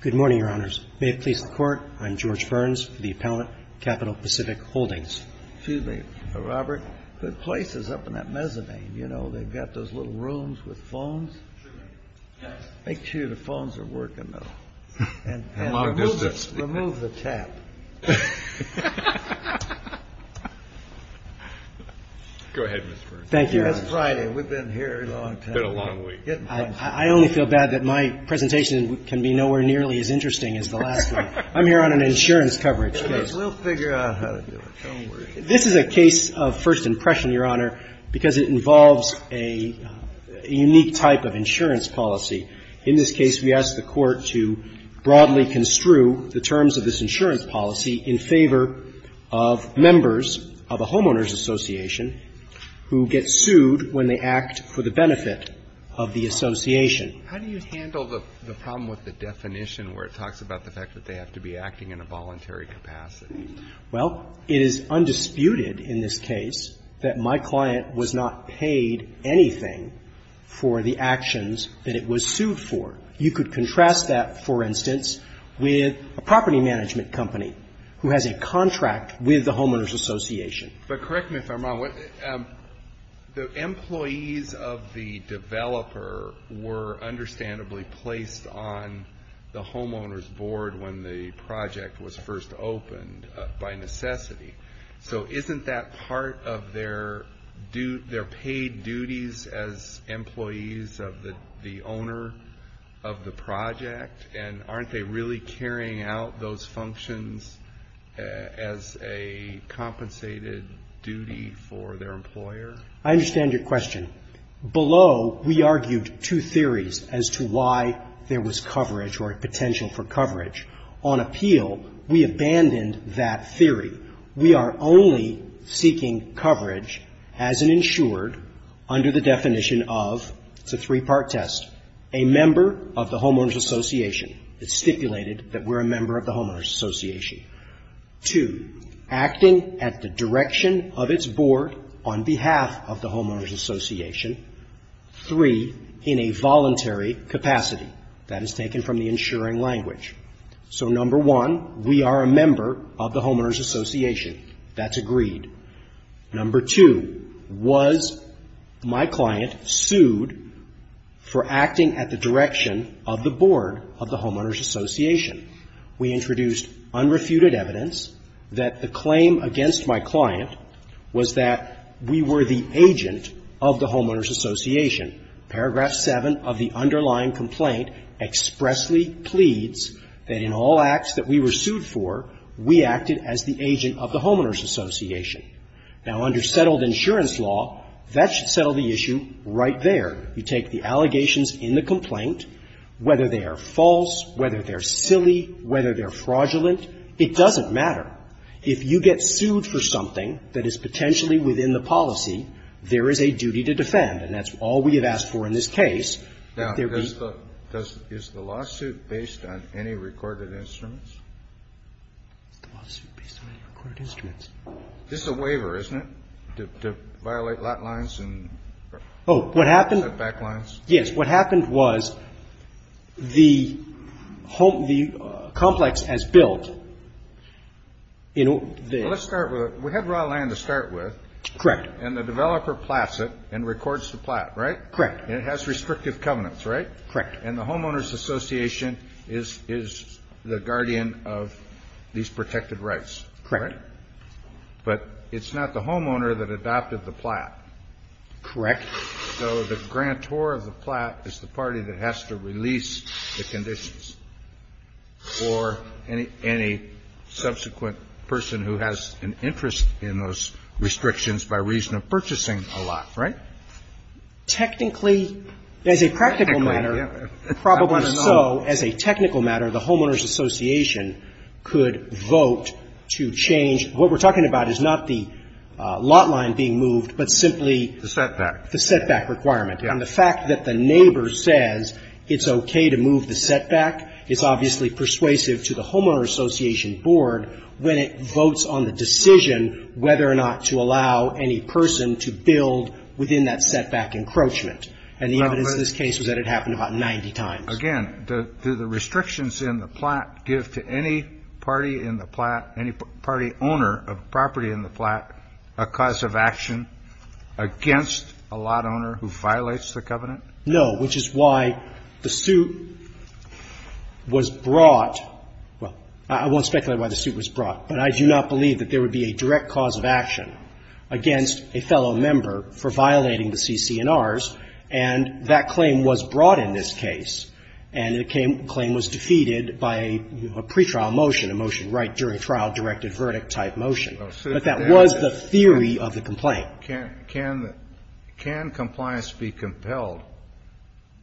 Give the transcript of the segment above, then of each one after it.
Good morning, Your Honors. May it please the Court, I'm George Burns, the appellant, Capital Pacific Holdings. Excuse me, Mr. Robert. Good place is up in that mezzanine. You know, they've got those little rooms with phones. Yes. Make sure the phones are working, though. And remove the tap. Go ahead, Mr. Burns. Thank you, Your Honor. It's Friday. We've been here a long time. Been a long week. I only feel bad that my presentation can be nowhere nearly as interesting as the last one. I'm here on an insurance coverage case. We'll figure out how to do it. Don't worry. This is a case of first impression, Your Honor, because it involves a unique type of insurance policy. In this case, we ask the Court to broadly construe the terms of this insurance policy in favor of members of a homeowners association who get sued when they act for the benefit of the association. How do you handle the problem with the definition where it talks about the fact that they have to be acting in a voluntary capacity? Well, it is undisputed in this case that my client was not paid anything for the actions that it was sued for. You could contrast that, for instance, with a property management company who has a contract with the homeowners association. But correct me if I'm wrong. The employees of the developer were understandably placed on the homeowners board when the project was first opened by necessity. So isn't that part of their paid duties as employees of the owner of the project? And aren't they really carrying out those functions as a compensated duty for their employer? I understand your question. Below, we argued two theories as to why there was coverage or potential for coverage. On appeal, we abandoned that theory. We are only seeking coverage as an insured under the definition of, it's a three-part test, a member of the homeowners association. It's stipulated that we're a member of the homeowners association. Two, acting at the direction of its board on behalf of the homeowners association. Three, in a voluntary capacity. That is taken from the insuring language. So number one, we are a member of the homeowners association. That's agreed. Number two, was my client sued for acting at the direction of the board of the homeowners association? We introduced unrefuted evidence that the claim against my client was that we were the agent of the homeowners association. Paragraph seven of the underlying complaint expressly pleads that in all acts that we were sued for, we acted as the agent of the homeowners association. Now, under settled insurance law, that should settle the issue right there. You take the allegations in the complaint, whether they are false, whether they're silly, whether they're fraudulent, it doesn't matter. If you get sued for something that is potentially within the policy, there is a duty to defend, and that's all we have asked for in this case. Now, is the lawsuit based on any recorded instruments? It's the lawsuit based on any recorded instruments. This is a waiver, isn't it, to violate lot lines and back lines? Yes. What happened was the complex has built. Let's start with it. We had raw land to start with. Correct. And the developer plats it and records the plat, right? Correct. And it has restrictive covenants, right? Correct. And the homeowners association is the guardian of these protected rights. Correct. But it's not the homeowner that adopted the plat. Correct. So the grantor of the plat is the party that has to release the conditions for any subsequent person who has an interest in those restrictions by reason of purchasing a lot, right? Technically, as a practical matter, probably so, as a technical matter, the homeowners association could vote to change what we're talking about is not the lot line being moved, but simply the setback requirement. And the fact that the neighbor says it's okay to move the setback is obviously persuasive to the homeowners association board when it votes on the decision whether or not to allow any person to build within that setback encroachment. And the evidence in this case was that it happened about 90 times. Again, do the restrictions in the plat give to any party in the plat, any party owner of property in the plat a cause of action against a lot owner who violates the covenant? No, which is why the suit was brought. Well, I won't speculate why the suit was brought. But I do not believe that there would be a direct cause of action against a fellow member for violating the CC&Rs. And that claim was brought in this case, and the claim was defeated by a pretrial motion, a motion right during trial directed verdict type motion. But that was the theory of the complaint. Can compliance be compelled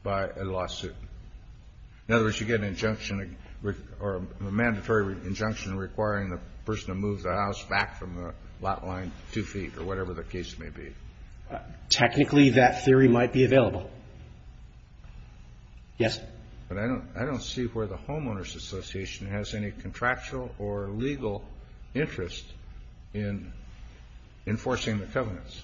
by a lawsuit? In other words, you get an injunction or a mandatory injunction requiring the person to move the house back from the lot line two feet or whatever the case may be. Technically, that theory might be available. Yes. But I don't see where the homeowners association has any contractual or legal interest in enforcing the covenants.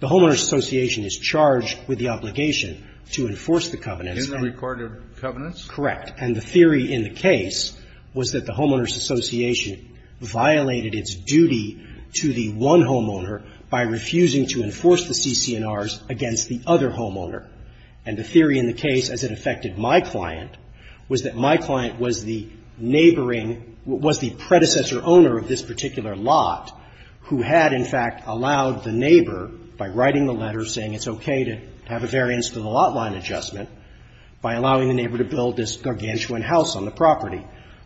The homeowners association is charged with the obligation to enforce the covenants in the recorded covenants? Correct. And the theory in the case was that the homeowners association violated its duty to the one homeowner by refusing to enforce the CC&Rs against the other homeowner. And the theory in the case, as it affected my client, was that my client was the neighboring, was the predecessor owner of this particular lot who had, in fact, allowed the neighbor, by writing the letter saying it's okay to have a variance to the lot line adjustment, by allowing the neighbor to build this gargantuan house on the property.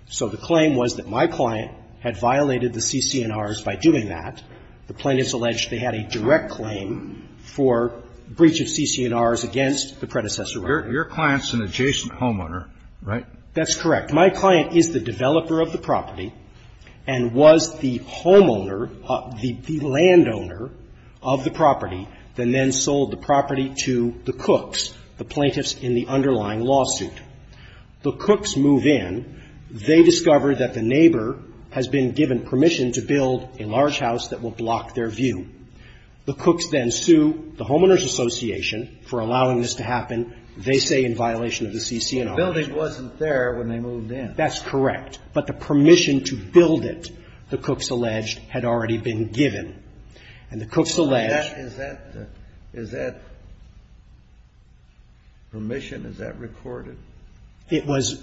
So the claim was that my client had violated the CC&Rs by doing that. The plaintiff's alleged they had a direct claim for breach of CC&Rs against the predecessor owner. Your client's an adjacent homeowner, right? That's correct. My client is the developer of the property and was the homeowner, the landowner of the property, then then sold the property to the Cooks, the plaintiffs in the underlying lawsuit. The Cooks move in. They discover that the neighbor has been given permission to build a large house that will block their view. The Cooks then sue the homeowners association for allowing this to happen. They say in violation of the CC&Rs. The building wasn't there when they moved in. That's correct. But the permission to build it, the Cooks alleged, had already been given. And the Cooks alleged. Is that permission, is that recorded? It was.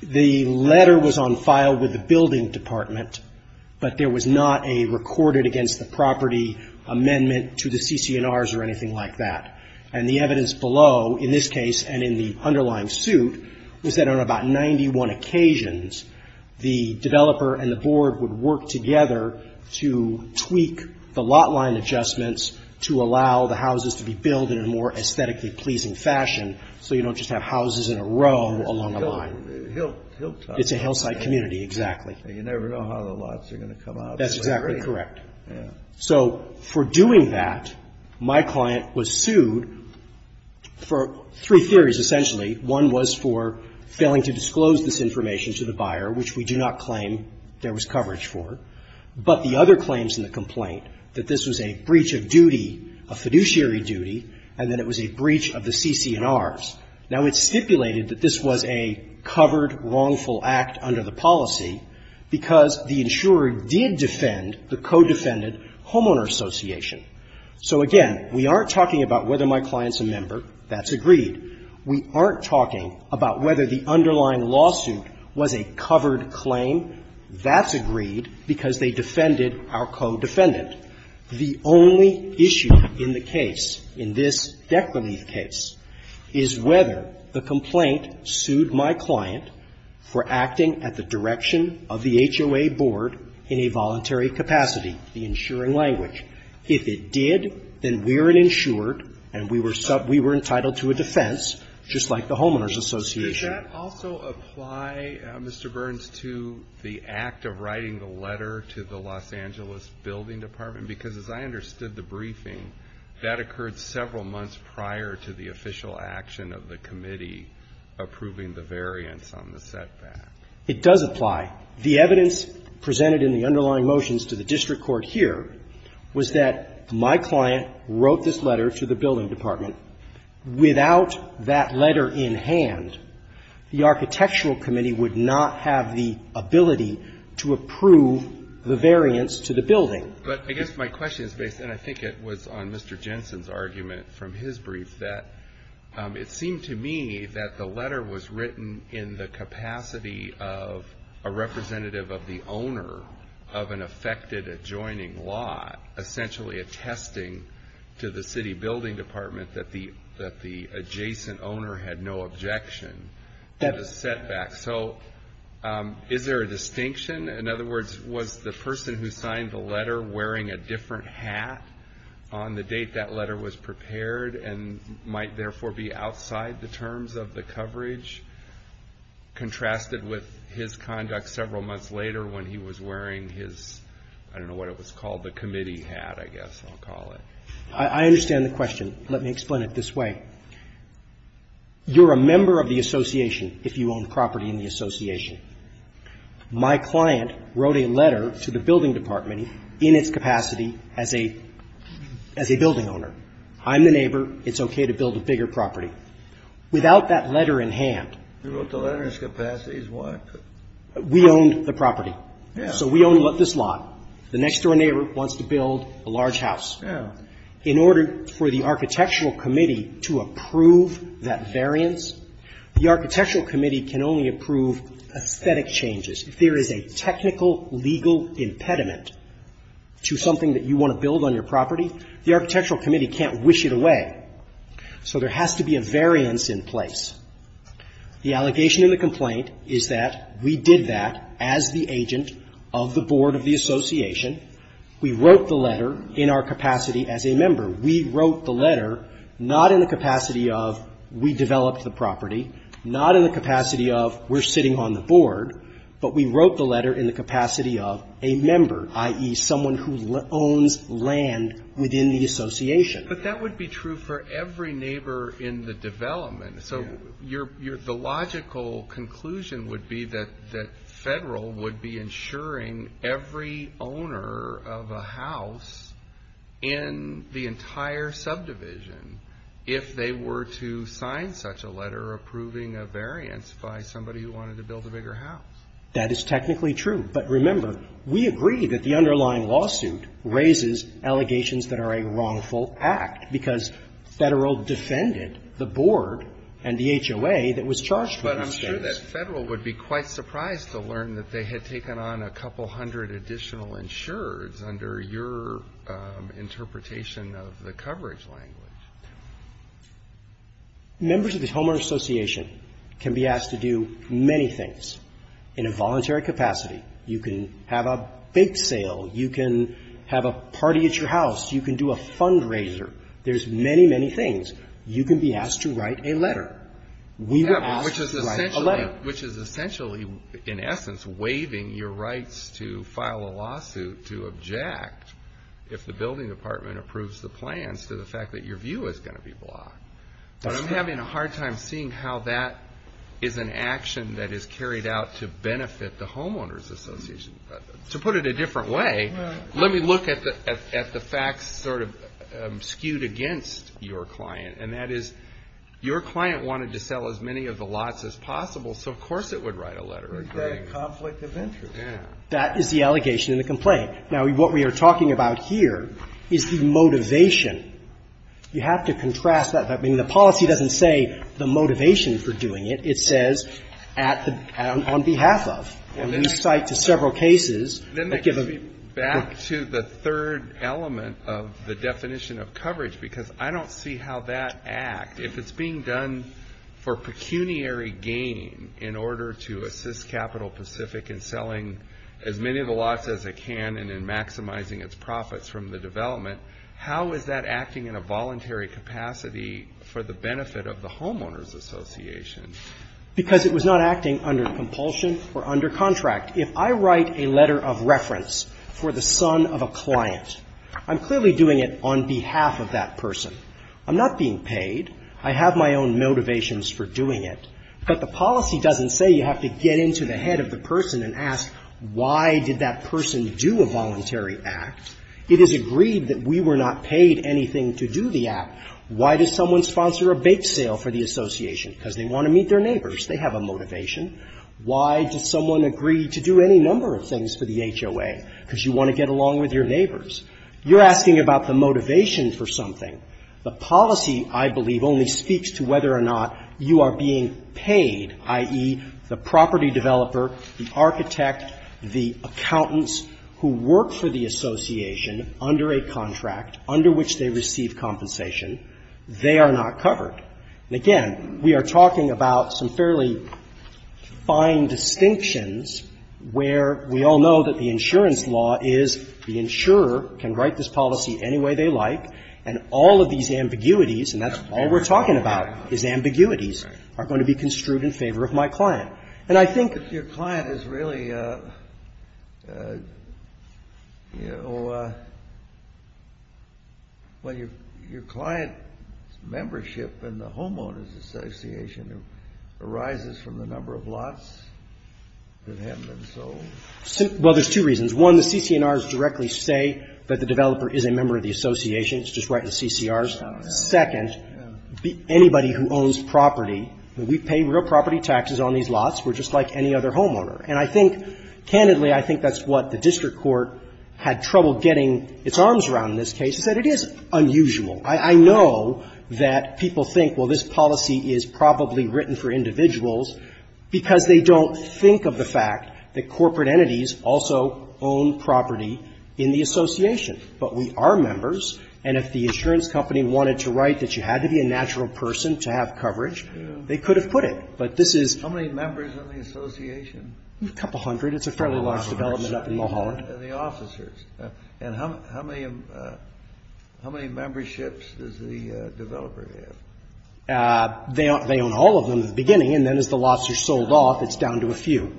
The letter was on file with the building department, but there was not a recorded against the property amendment to the CC&Rs or anything like that. And the evidence below, in this case and in the underlying suit, was that on about 91 occasions, the developer and the board would work together to tweak the lot line adjustments to allow the houses to be built in a more aesthetically pleasing fashion so you don't just have houses in a row along the line. Hillside. It's a hillside community, exactly. You never know how the lots are going to come out. That's exactly correct. So for doing that, my client was sued for three theories, essentially. One was for failing to disclose this information to the buyer, which we do not claim there was coverage for, but the other claims in the complaint that this was a breach of duty, a fiduciary duty, and that it was a breach of the CC&Rs. Now, it's stipulated that this was a covered, wrongful act under the policy because the insurer did defend the co-defended homeowner association. So, again, we aren't talking about whether my client's a member. That's agreed. We aren't talking about whether the underlying lawsuit was a covered claim. That's agreed because they defended our co-defendant. The only issue in the case, in this Declan Heath case, is whether the complaint sued my client for acting at the direction of the HOA board in a voluntary capacity, the insuring language. If it did, then we're an insured, and we were entitled to a defense, just like the Homeowners Association. Alito, did that also apply, Mr. Burns, to the act of writing the letter to the Los Angeles building department? Because as I understood the briefing, that occurred several months prior to the official action of the committee approving the variance on the setback. It does apply. The evidence presented in the underlying motions to the district court here was that my client wrote this letter to the building department. Without that letter in hand, the architectural committee would not have the ability to approve the variance to the building. But I guess my question is based, and I think it was on Mr. Jensen's argument from his brief, that it seemed to me that the letter was written in the capacity of a representative of the owner of an affected adjoining lot, essentially attesting to the city building department that the adjacent owner had no objection to the setback. So is there a distinction? In other words, was the person who signed the letter wearing a different hat on the date that letter was prepared and might therefore be outside the terms of the coverage contrasted with his conduct several months later when he was wearing his, I don't know what it was called, the committee hat, I guess I'll call it? I understand the question. Let me explain it this way. You're a member of the association if you own property in the association. My client wrote a letter to the building department in its capacity as a building owner. I'm the neighbor. It's okay to build a bigger property. Without that letter in hand. You wrote the letter in its capacity as what? We owned the property. Yes. So we own this lot. The next-door neighbor wants to build a large house. Yes. In order for the architectural committee to approve that variance, the architectural committee can only approve aesthetic changes. If there is a technical legal impediment to something that you want to build on your property, the architectural committee can't wish it away. So there has to be a variance in place. The allegation in the complaint is that we did that as the agent of the board of the association. We wrote the letter in our capacity as a member. We wrote the letter not in the capacity of we developed the property, not in the capacity of we're sitting on the board, but we wrote the letter in the capacity of a member, i.e., someone who owns land within the association. But that would be true for every neighbor in the development. So the logical conclusion would be that Federal would be insuring every owner of a house in the entire subdivision if they were to sign such a letter approving a variance by somebody who wanted to build a bigger house. That is technically true. But remember, we agree that the underlying lawsuit raises allegations that are a wrongful act because Federal defended the board and the HOA that was charged with these things. But I'm sure that Federal would be quite surprised to learn that they had taken on a couple hundred additional insurers under your interpretation of the coverage language. Members of the Homeowner Association can be asked to do many things in a voluntary capacity. You can have a bake sale. You can have a party at your house. You can do a fundraiser. There's many, many things. You can be asked to write a letter. We were asked to write a letter. Kennedy. Which is essentially, in essence, waiving your rights to file a lawsuit to object if the building department approves the plans to the fact that your view is going to be blocked. But I'm having a hard time seeing how that is an action that is carried out to benefit the Homeowners Association. To put it a different way, let me look at the facts sort of skewed against your client, and that is your client wanted to sell as many of the lots as possible, so of course it would write a letter. That is the allegation in the complaint. Now, what we are talking about here is the motivation. You have to contrast that. I mean, the policy doesn't say the motivation for doing it. It says on behalf of. And we cite to several cases. Then that gets me back to the third element of the definition of coverage, because I don't see how that act, if it's being done for pecuniary gain in order to assist Capital Pacific in selling as many of the lots as it can and in maximizing its profits from the development, how is that acting in a voluntary capacity for the benefit of the Homeowners Association? Because it was not acting under compulsion or under contract. If I write a letter of reference for the son of a client, I'm clearly doing it on behalf of that person. I'm not being paid. I have my own motivations for doing it. But the policy doesn't say you have to get into the head of the person and ask why did that person do a voluntary act. It is agreed that we were not paid anything to do the act. Why does someone sponsor a bake sale for the association? Because they want to meet their neighbors. They have a motivation. Why does someone agree to do any number of things for the HOA? Because you want to get along with your neighbors. You're asking about the motivation for something. The policy, I believe, only speaks to whether or not you are being paid, i.e., the property developer, the architect, the accountants who work for the association under a contract under which they receive compensation. They are not covered. And again, we are talking about some fairly fine distinctions where we all know that the insurance law is the insurer can write this policy any way they like, and all of these ambiguities, and that's all we're talking about is ambiguities, are going to be construed in favor of my client. And I think If your client is really, you know, well, your client's membership in the homeowners association arises from the number of lots that have been sold? Well, there's two reasons. One, the CC&Rs directly say that the developer is a member of the association. It's just right in the CCRs. Second, anybody who owns property, we pay real property taxes on these lots. We're just like any other homeowner. And I think, candidly, I think that's what the district court had trouble getting its arms around in this case. It said it is unusual. I know that people think, well, this policy is probably written for individuals because they don't think of the fact that corporate entities also own property in the association. But we are members, and if the insurance company wanted to write that you had to be a natural person to have coverage, they could have put it. But this is How many members are in the association? A couple hundred. It's a fairly large development up in Mulholland. And the officers. And how many memberships does the developer have? They own all of them at the beginning, and then as the lots are sold off, it's down to a few.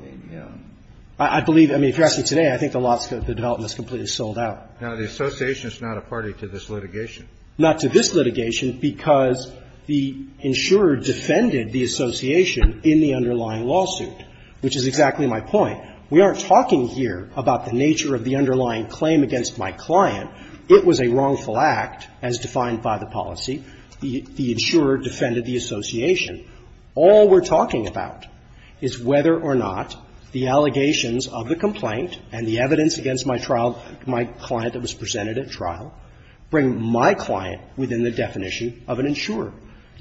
I believe, I mean, if you're asking today, I think the development is completely sold out. Now, the association is not a party to this litigation. Not to this litigation, because the insurer defended the association in the underlying lawsuit, which is exactly my point. We aren't talking here about the nature of the underlying claim against my client. It was a wrongful act, as defined by the policy. The insurer defended the association. All we're talking about is whether or not the allegations of the complaint and the presented at trial bring my client within the definition of an insurer.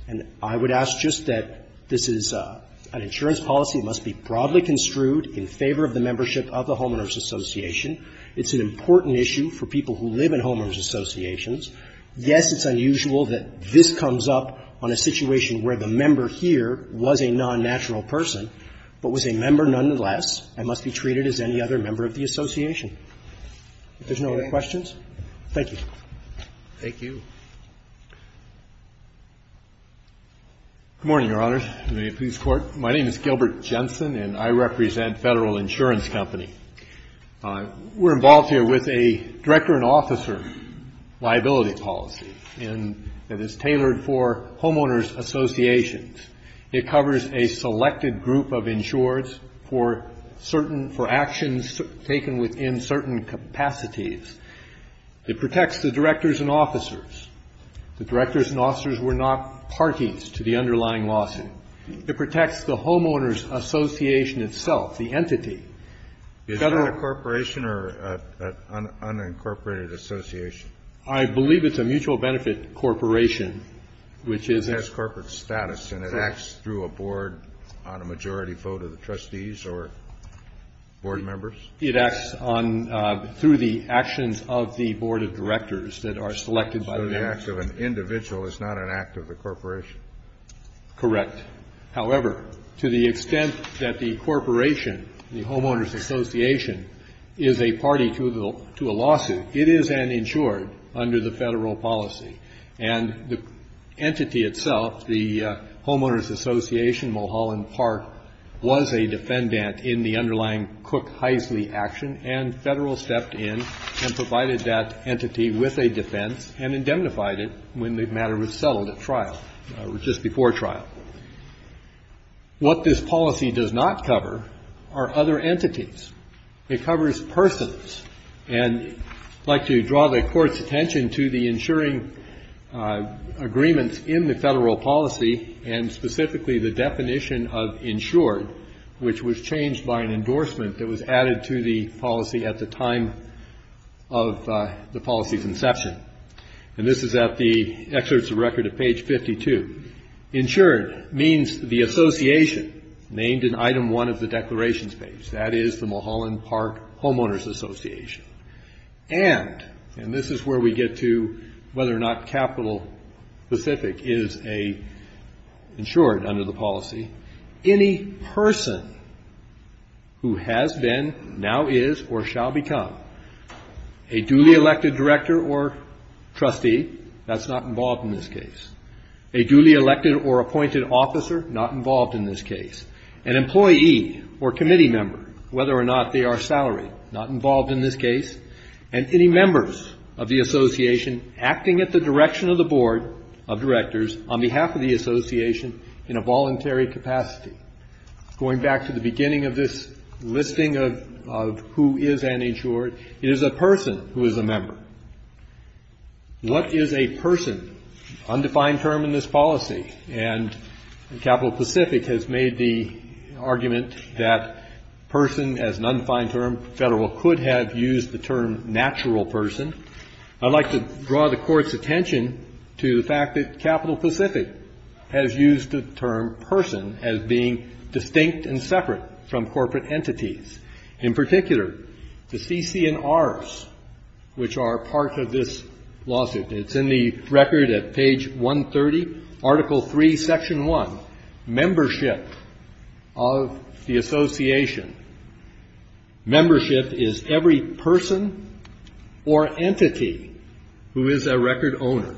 And I would ask just that this is an insurance policy that must be broadly construed in favor of the membership of the homeowners association. It's an important issue for people who live in homeowners associations. Yes, it's unusual that this comes up on a situation where the member here was a non-natural person, but was a member nonetheless and must be treated as any other member of the association. If there's no other questions, thank you. Thank you. Good morning, Your Honors. May it please the Court. My name is Gilbert Jensen, and I represent Federal Insurance Company. We're involved here with a director and officer liability policy, and it is tailored for homeowners associations. It covers a selected group of insurers for certain — for actions taken within certain capacities. It protects the directors and officers. The directors and officers were not parties to the underlying lawsuit. It protects the homeowners association itself, the entity. Is that a corporation or an unincorporated association? I believe it's a mutual benefit corporation, which is — It has corporate status, and it acts through a board on a majority vote of the trustees or board members? It acts on — through the actions of the board of directors that are selected by that. So the act of an individual is not an act of the corporation? Correct. However, to the extent that the corporation, the homeowners association, is a party to a lawsuit, it is an insured under the Federal policy. And the entity itself, the homeowners association, Mulholland Park, was a defendant in the underlying Cook-Heisley action, and Federal stepped in and provided that entity with a defense and indemnified it when the matter was settled at trial, or just before trial. What this policy does not cover are other entities. It covers persons. And I'd like to draw the Court's attention to the insuring agreements in the Federal policy and specifically the definition of insured, which was changed by an endorsement that was added to the policy at the time of the policy's inception. And this is at the excerpts of record at page 52. Insured means the association named in item one of the declarations page. That is the Mulholland Park Homeowners Association. And, and this is where we get to whether or not capital specific is a insured under the policy, any person who has been, now is, or shall become a duly elected director or trustee, that's not involved in this case, a duly elected or appointed officer, not involved in this case, an employee or committee member, whether or not they are salaried, not involved in this case, and any members of the association acting at the direction of the board of directors on behalf of the association in a voluntary capacity. Going back to the beginning of this listing of, of who is an insured, it is a person who is a member. What is a person, undefined term in this policy, and capital specific has made the argument that person as an undefined term, federal could have used the term natural person. I'd like to draw the court's attention to the fact that capital specific has used the term person as being distinct and separate from corporate entities. In particular, the CC&Rs, which are part of this lawsuit, it's in the record at page 130, article three, section one, membership of the association. Membership is every person or entity who is a record owner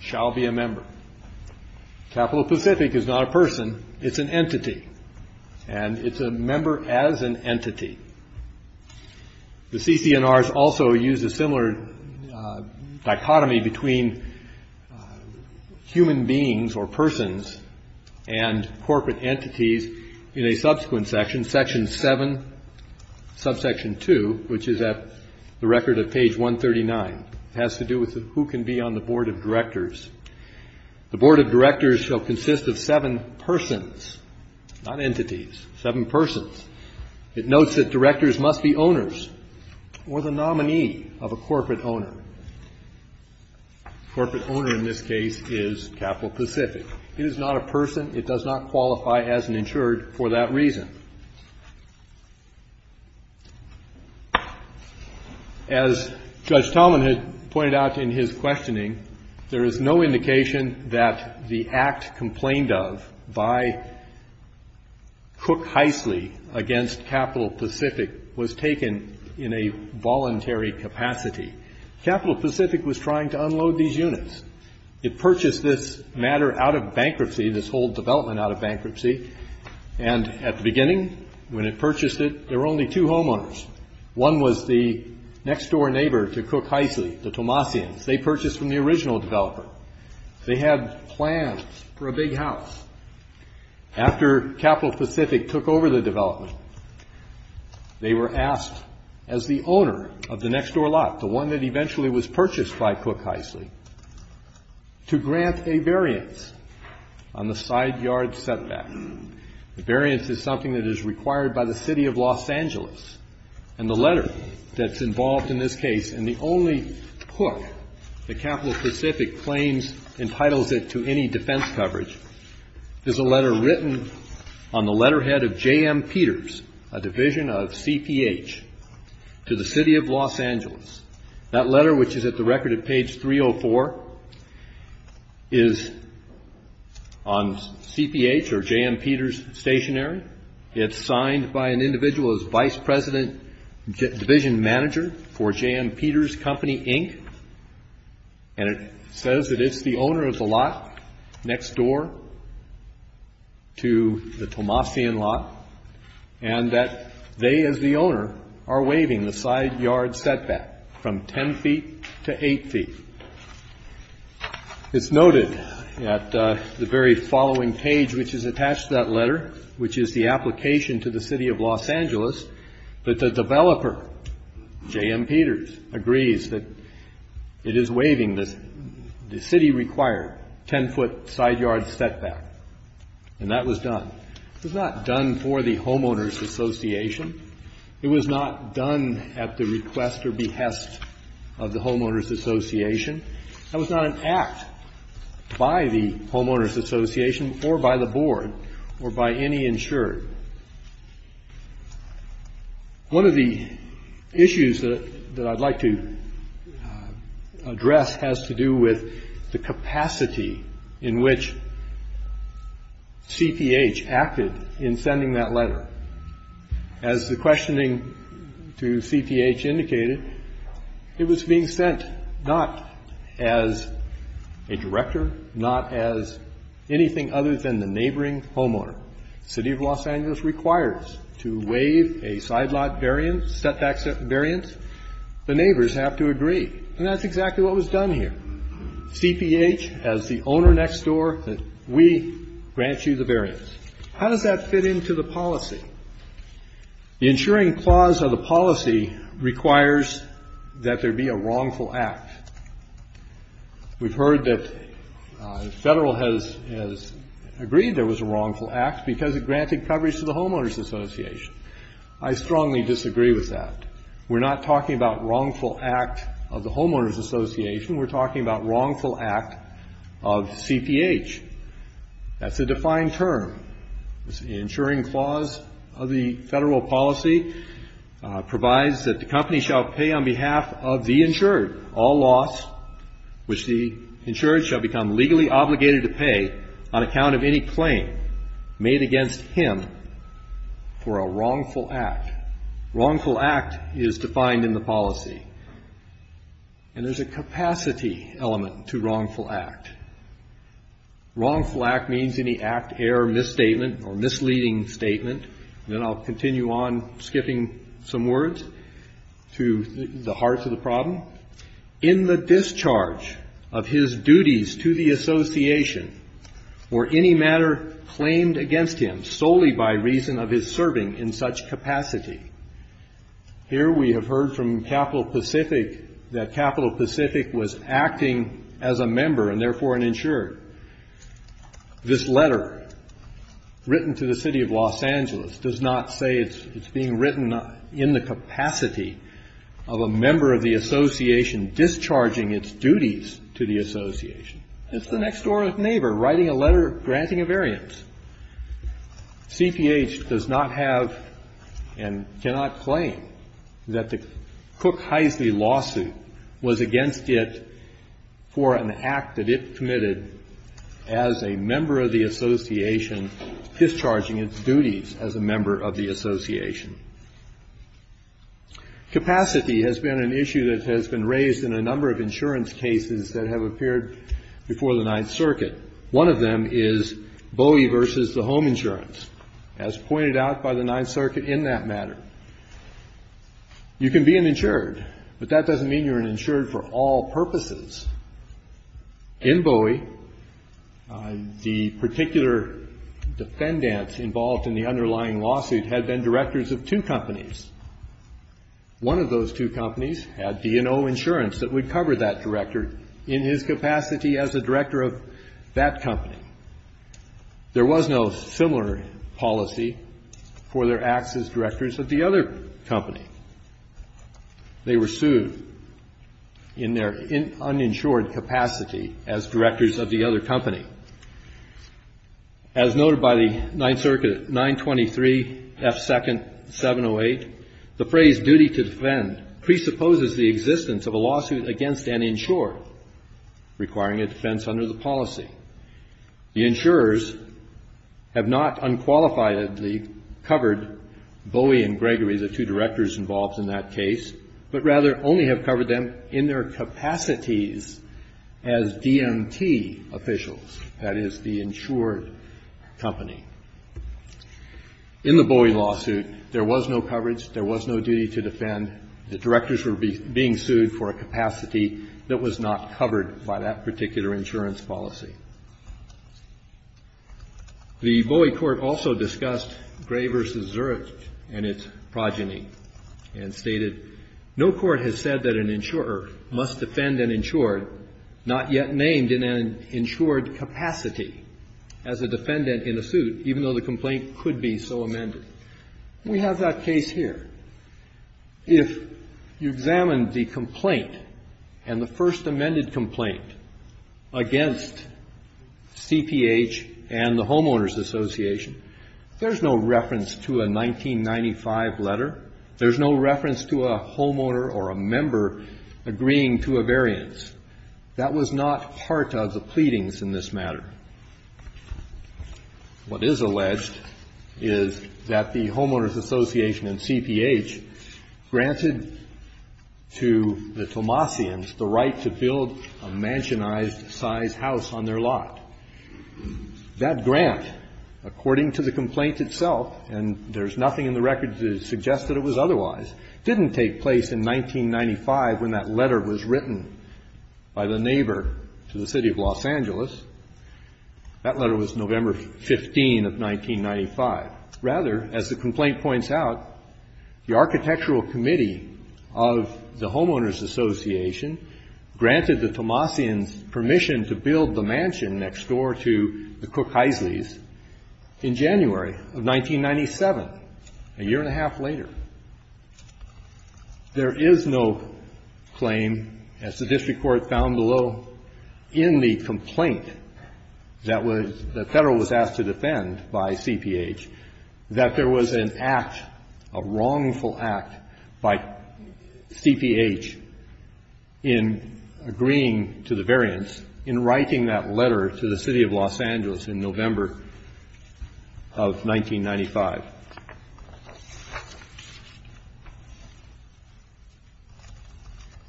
shall be a member. Capital specific is not a person, it's an entity, and it's a member as an entity. The CC&Rs also use a similar dichotomy between human beings and corporate entities. Human beings or persons and corporate entities in a subsequent section, section seven, subsection two, which is at the record of page 139. It has to do with who can be on the board of directors. The board of directors shall consist of seven persons, not entities, seven persons. It notes that directors must be owners or the nominee of a corporate owner. Corporate owner in this case is capital specific. It is not a person. It does not qualify as an insured for that reason. As Judge Talman had pointed out in his questioning, there is no indication that the act complained of by Cook Heisley against capital specific was taken in a voluntary capacity. Capital specific was trying to unload these units. It purchased this matter out of bankruptcy, this whole development out of bankruptcy. And at the beginning when it purchased it, there were only two homeowners. One was the next door neighbor to Cook Heisley, the Tomassians. They purchased from the original developer. They had plans for a big house. After capital specific took over the development, they were asked as the owner of the next door lot, the one that eventually was purchased by Cook Heisley, to grant a variance on the side yard setback. The variance is something that is required by the city of Los Angeles. And the letter that's involved in this case, and the only book that capital specific claims, entitles it to any defense coverage, is a letter written on the letterhead of J.M. Peters, a division of CPH, to the city of Los Angeles. That letter, which is at the record at page 304, is on CPH or J.M. Peters stationary. It's signed by an individual as vice president division manager for J.M. Peters Company, Inc. And it says that it's the owner of the lot next door to the Tomassian lot, and that they as the owner are waiving the side yard setback from 10 feet to 8 feet. It's noted at the very following page, which is attached to that letter, which is the application to the city of Los Angeles, that the developer, J.M. Peters, agrees that it is waiving the city required 10 foot side yard setback. And that was done. It was not done for the homeowners association. It was not done at the request or behest of the homeowners association. That was not an act by the homeowners association or by the board or by any insured. One of the issues that I'd like to address has to do with the capacity in which CPH acted in sending that letter. As the questioning to CPH indicated, it was being sent not as a director, not as anything other than the neighboring homeowner. The city of Los Angeles requires to waive a side lot variance, setback variance. The neighbors have to agree. And that's exactly what was done here. CPH, as the owner next door, we grant you the variance. How does that fit into the policy? The insuring clause of the policy requires that there be a wrongful act. We've heard that the federal has agreed there was a wrongful act because it granted coverage to the homeowners association. I strongly disagree with that. We're not talking about wrongful act of the homeowners association. We're talking about wrongful act of CPH. That's a defined term. The insuring clause of the federal policy provides that the company shall pay on behalf of the insured all loss which the insured shall become legally obligated to pay on account of any claim made against him for a wrongful act. Wrongful act is defined in the policy. And there's a capacity element to wrongful act. Wrongful act means any act, error, misstatement or misleading statement. And I'll continue on skipping some words to the heart of the problem. In the discharge of his duties to the association or any matter claimed against him solely by reason of his serving in such capacity, here we have heard from Capital Pacific that Capital Pacific was acting as a member and therefore an insured. This letter written to the city of Los Angeles does not say it's being written in the capacity of a member of the association discharging its duties to the association. It's the next door neighbor writing a letter granting a variance. CPH does not have and cannot claim that the Cook-Heisley lawsuit was against it for an act that it committed as a member of the association discharging its duties as a member of the association. Capacity has been an issue that has been raised in a number of insurance cases that have appeared before the Ninth Circuit. One of them is Bowie v. The Home Insurance, as pointed out by the Ninth Circuit in that matter. You can be an insured, but that doesn't mean you're an insured for all purposes. In Bowie, the particular defendants involved in the underlying lawsuit had been directors of two companies. One of those two companies had D&O Insurance that would cover that director. They were insured in his capacity as a director of that company. There was no similar policy for their acts as directors of the other company. They were sued in their uninsured capacity as directors of the other company. As noted by the Ninth Circuit, 923 F. 2nd, 708, the phrase duty to defend presupposes the existence of a lawsuit against an insured requiring a defense under the policy. The insurers have not unqualifiedly covered Bowie and Gregory, the two directors involved in that case, but rather only have covered them in their capacities as DMT officials, that is, the insured company. In the Bowie lawsuit, there was no coverage, there was no duty to defend, the directors were being sued for a capacity that was not covered by that particular insurance policy. The Bowie court also discussed Gray v. Zurich and its progeny and stated, no court has said that an insurer must defend an insured not yet named in an insured capacity as a defendant in a suit, even though the complaint could be so amended. We have that case here. If you examine the complaint and the first amended complaint against CPH and the Homeowners Association, there's no reference to a 1995 letter, there's no reference to a homeowner or a member agreeing to a variance. That was not part of the pleadings in this matter. What is alleged is that the Homeowners Association and CPH granted to the Tomasians the right to build a mansionized size house on their lot. That grant, according to the complaint itself, and there's nothing in the record to suggest that it was otherwise, didn't take place in 1995 when that letter was written by the neighbor to the city of Los Angeles. That letter was November 15 of 1995. Rather, as the complaint points out, the architectural committee of the Homeowners Association granted the Tomasians permission to build the mansion next door to the Cook-Heisley's in January of 1997, a year and a half later. There is no claim, as the district court found below, in the complaint that was the Federal was asked to defend by CPH, that there was an act, a wrongful act by CPH in agreeing to the variance in writing that letter to the city of Los Angeles in November of 1995.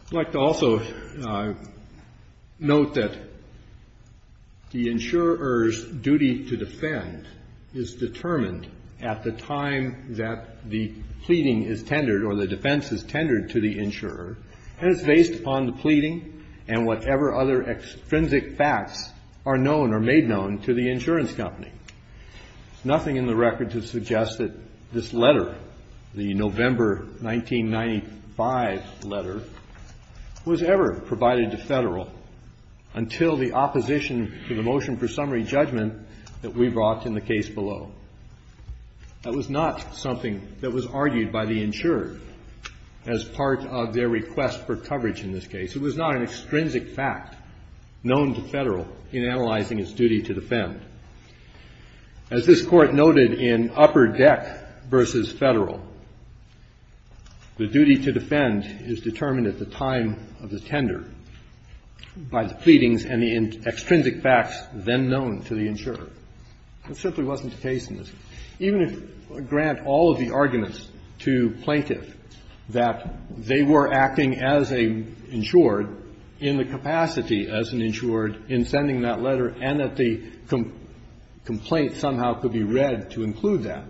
I'd like to also note that the insurer's duty to defend is determined at the time that the pleading is tendered or the defense is tendered to the insurer. And it's based upon the pleading and whatever other extrinsic facts are known or made known to the insurance company. There's nothing in the record to suggest that this letter, the November 1995 letter, was ever provided to Federal until the opposition to the motion for summary judgment that we brought in the case below. That was not something that was argued by the insurer as part of their request for coverage in this case. It was not an extrinsic fact known to Federal in analyzing its duty to defend. As this Court noted in Upper Deck v. Federal, the duty to defend is determined at the time of the tender by the pleadings and the extrinsic facts then known to the insurer. That simply wasn't the case in this case. Even if we grant all of the arguments to Plaintiff that they were acting as an insured in the capacity as an insured in sending that letter and that the complaint somehow could be read to include that,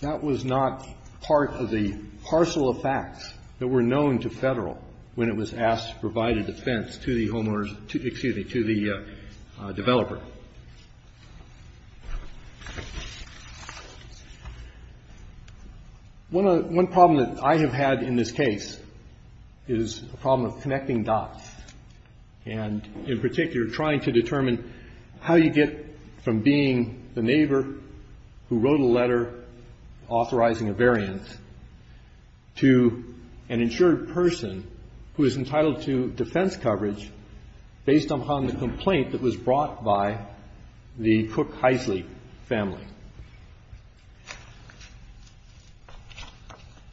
that was not part of the parcel of facts that were One problem that I have had in this case is a problem of connecting dots and in particular trying to determine how you get from being the neighbor who wrote a letter authorizing a variance to an insured person who is entitled to defense coverage based upon the Cook-Heisley family.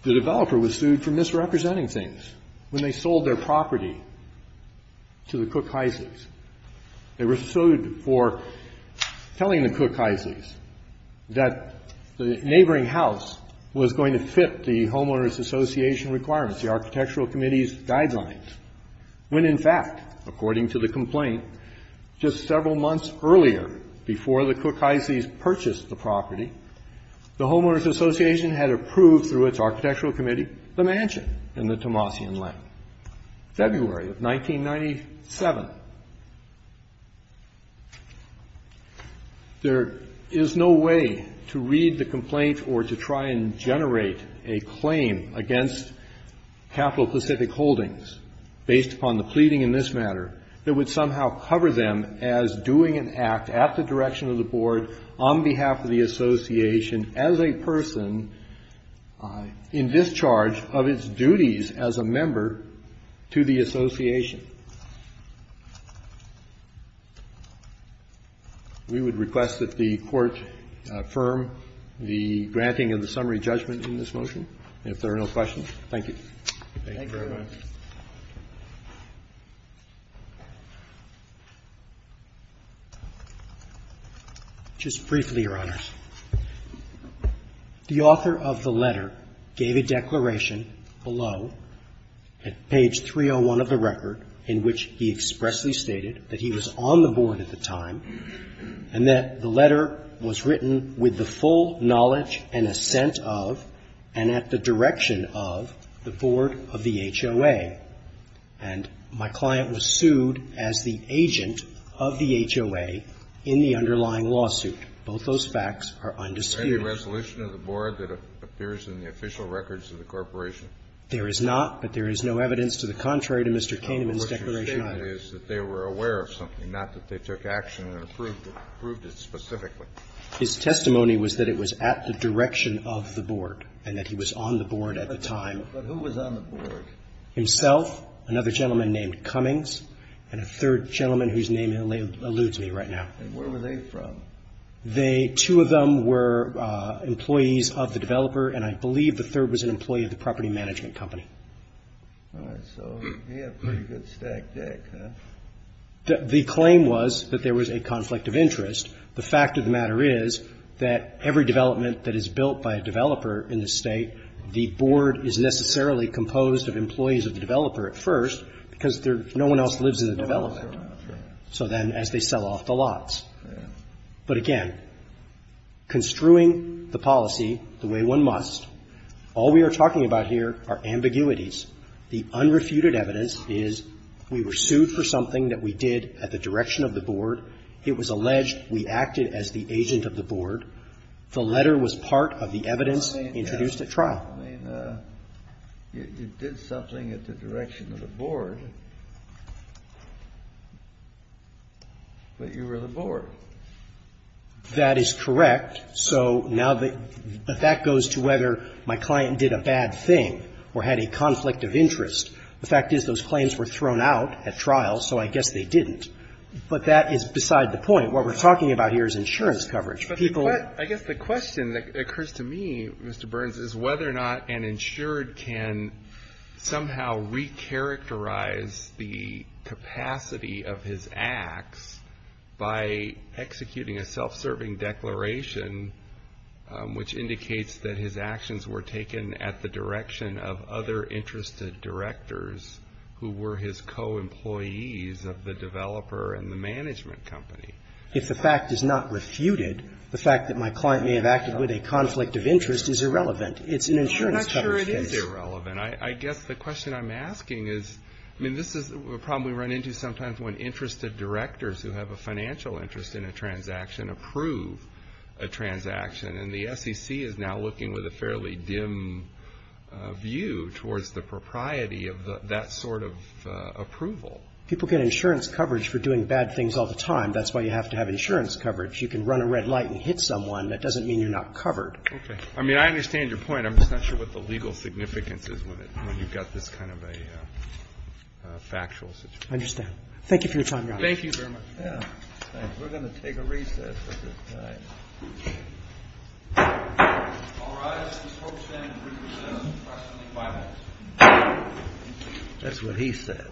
The developer was sued for misrepresenting things when they sold their property to the Cook-Heisleys. They were sued for telling the Cook-Heisleys that the neighboring house was going to fit the Homeowners Association requirements, the Architectural Committee's purchase of the property. The Homeowners Association had approved through its Architectural Committee the mansion in the Tomasian Lane, February of 1997. There is no way to read the complaint or to try and generate a claim against capital-specific holdings based upon the pleading in this matter that would somehow cover them as doing an act at the direction of the Board on behalf of the Association as a person in discharge of its duties as a member to the Association. We would request that the Court affirm the granting of the summary judgment in this motion. If there are no questions, thank you. Thank you very much. Just briefly, Your Honors. The author of the letter gave a declaration below at page 301 of the record in which he expressly stated that he was on the Board at the time and that the letter was written with the full knowledge and assent of and at the direction of the Board of the HOA. And my client was sued as the agent of the HOA in the underlying lawsuit. Both those facts are undisputed. Is there any resolution of the Board that appears in the official records of the corporation? There is not, but there is no evidence to the contrary to Mr. Kaineman's declaration either. No. The question stated is that they were aware of something, not that they took action and approved it. Approved it specifically. His testimony was that it was at the direction of the Board and that he was on the Board at the time. But who was on the Board? Himself, another gentleman named Cummings, and a third gentleman whose name eludes me right now. And where were they from? They, two of them were employees of the developer, and I believe the third was an employee of the property management company. All right. So he had a pretty good stack deck, huh? The claim was that there was a conflict of interest. The fact of the matter is that every development that is built by a developer in the State, the Board is necessarily composed of employees of the developer at first because no one else lives in the development. So then as they sell off the lots. But again, construing the policy the way one must, all we are talking about here are ambiguities. The unrefuted evidence is we were sued for something that we did at the direction of the Board. It was alleged we acted as the agent of the Board. The letter was part of the evidence introduced at trial. I mean, you did something at the direction of the Board, but you were the Board. That is correct. So now the fact goes to whether my client did a bad thing or had a conflict of interest. The fact is those claims were thrown out at trial, so I guess they didn't. But that is beside the point. What we're talking about here is insurance coverage. But I guess the question that occurs to me, Mr. Burns, is whether or not an insured can somehow recharacterize the capacity of his acts by executing a self-serving declaration which indicates that his actions were taken at the direction of other interested directors who were his co-employees of the developer and the management company. If the fact is not refuted, the fact that my client may have acted with a conflict of interest is irrelevant. It's an insurance coverage case. I'm not sure it is irrelevant. I guess the question I'm asking is, I mean, this is a problem we run into sometimes when interested directors who have a financial interest in a transaction approve a transaction. And the SEC is now looking with a fairly dim view towards the propriety of that sort of approval. People get insurance coverage for doing bad things all the time. That's why you have to have insurance coverage. You can run a red light and hit someone. That doesn't mean you're not covered. Okay. I mean, I understand your point. I'm just not sure what the legal significance is when you've got this kind of a factual situation. I understand. Thank you for your time, Your Honor. Thank you very much. We're going to take a recess at this time. That's what he said.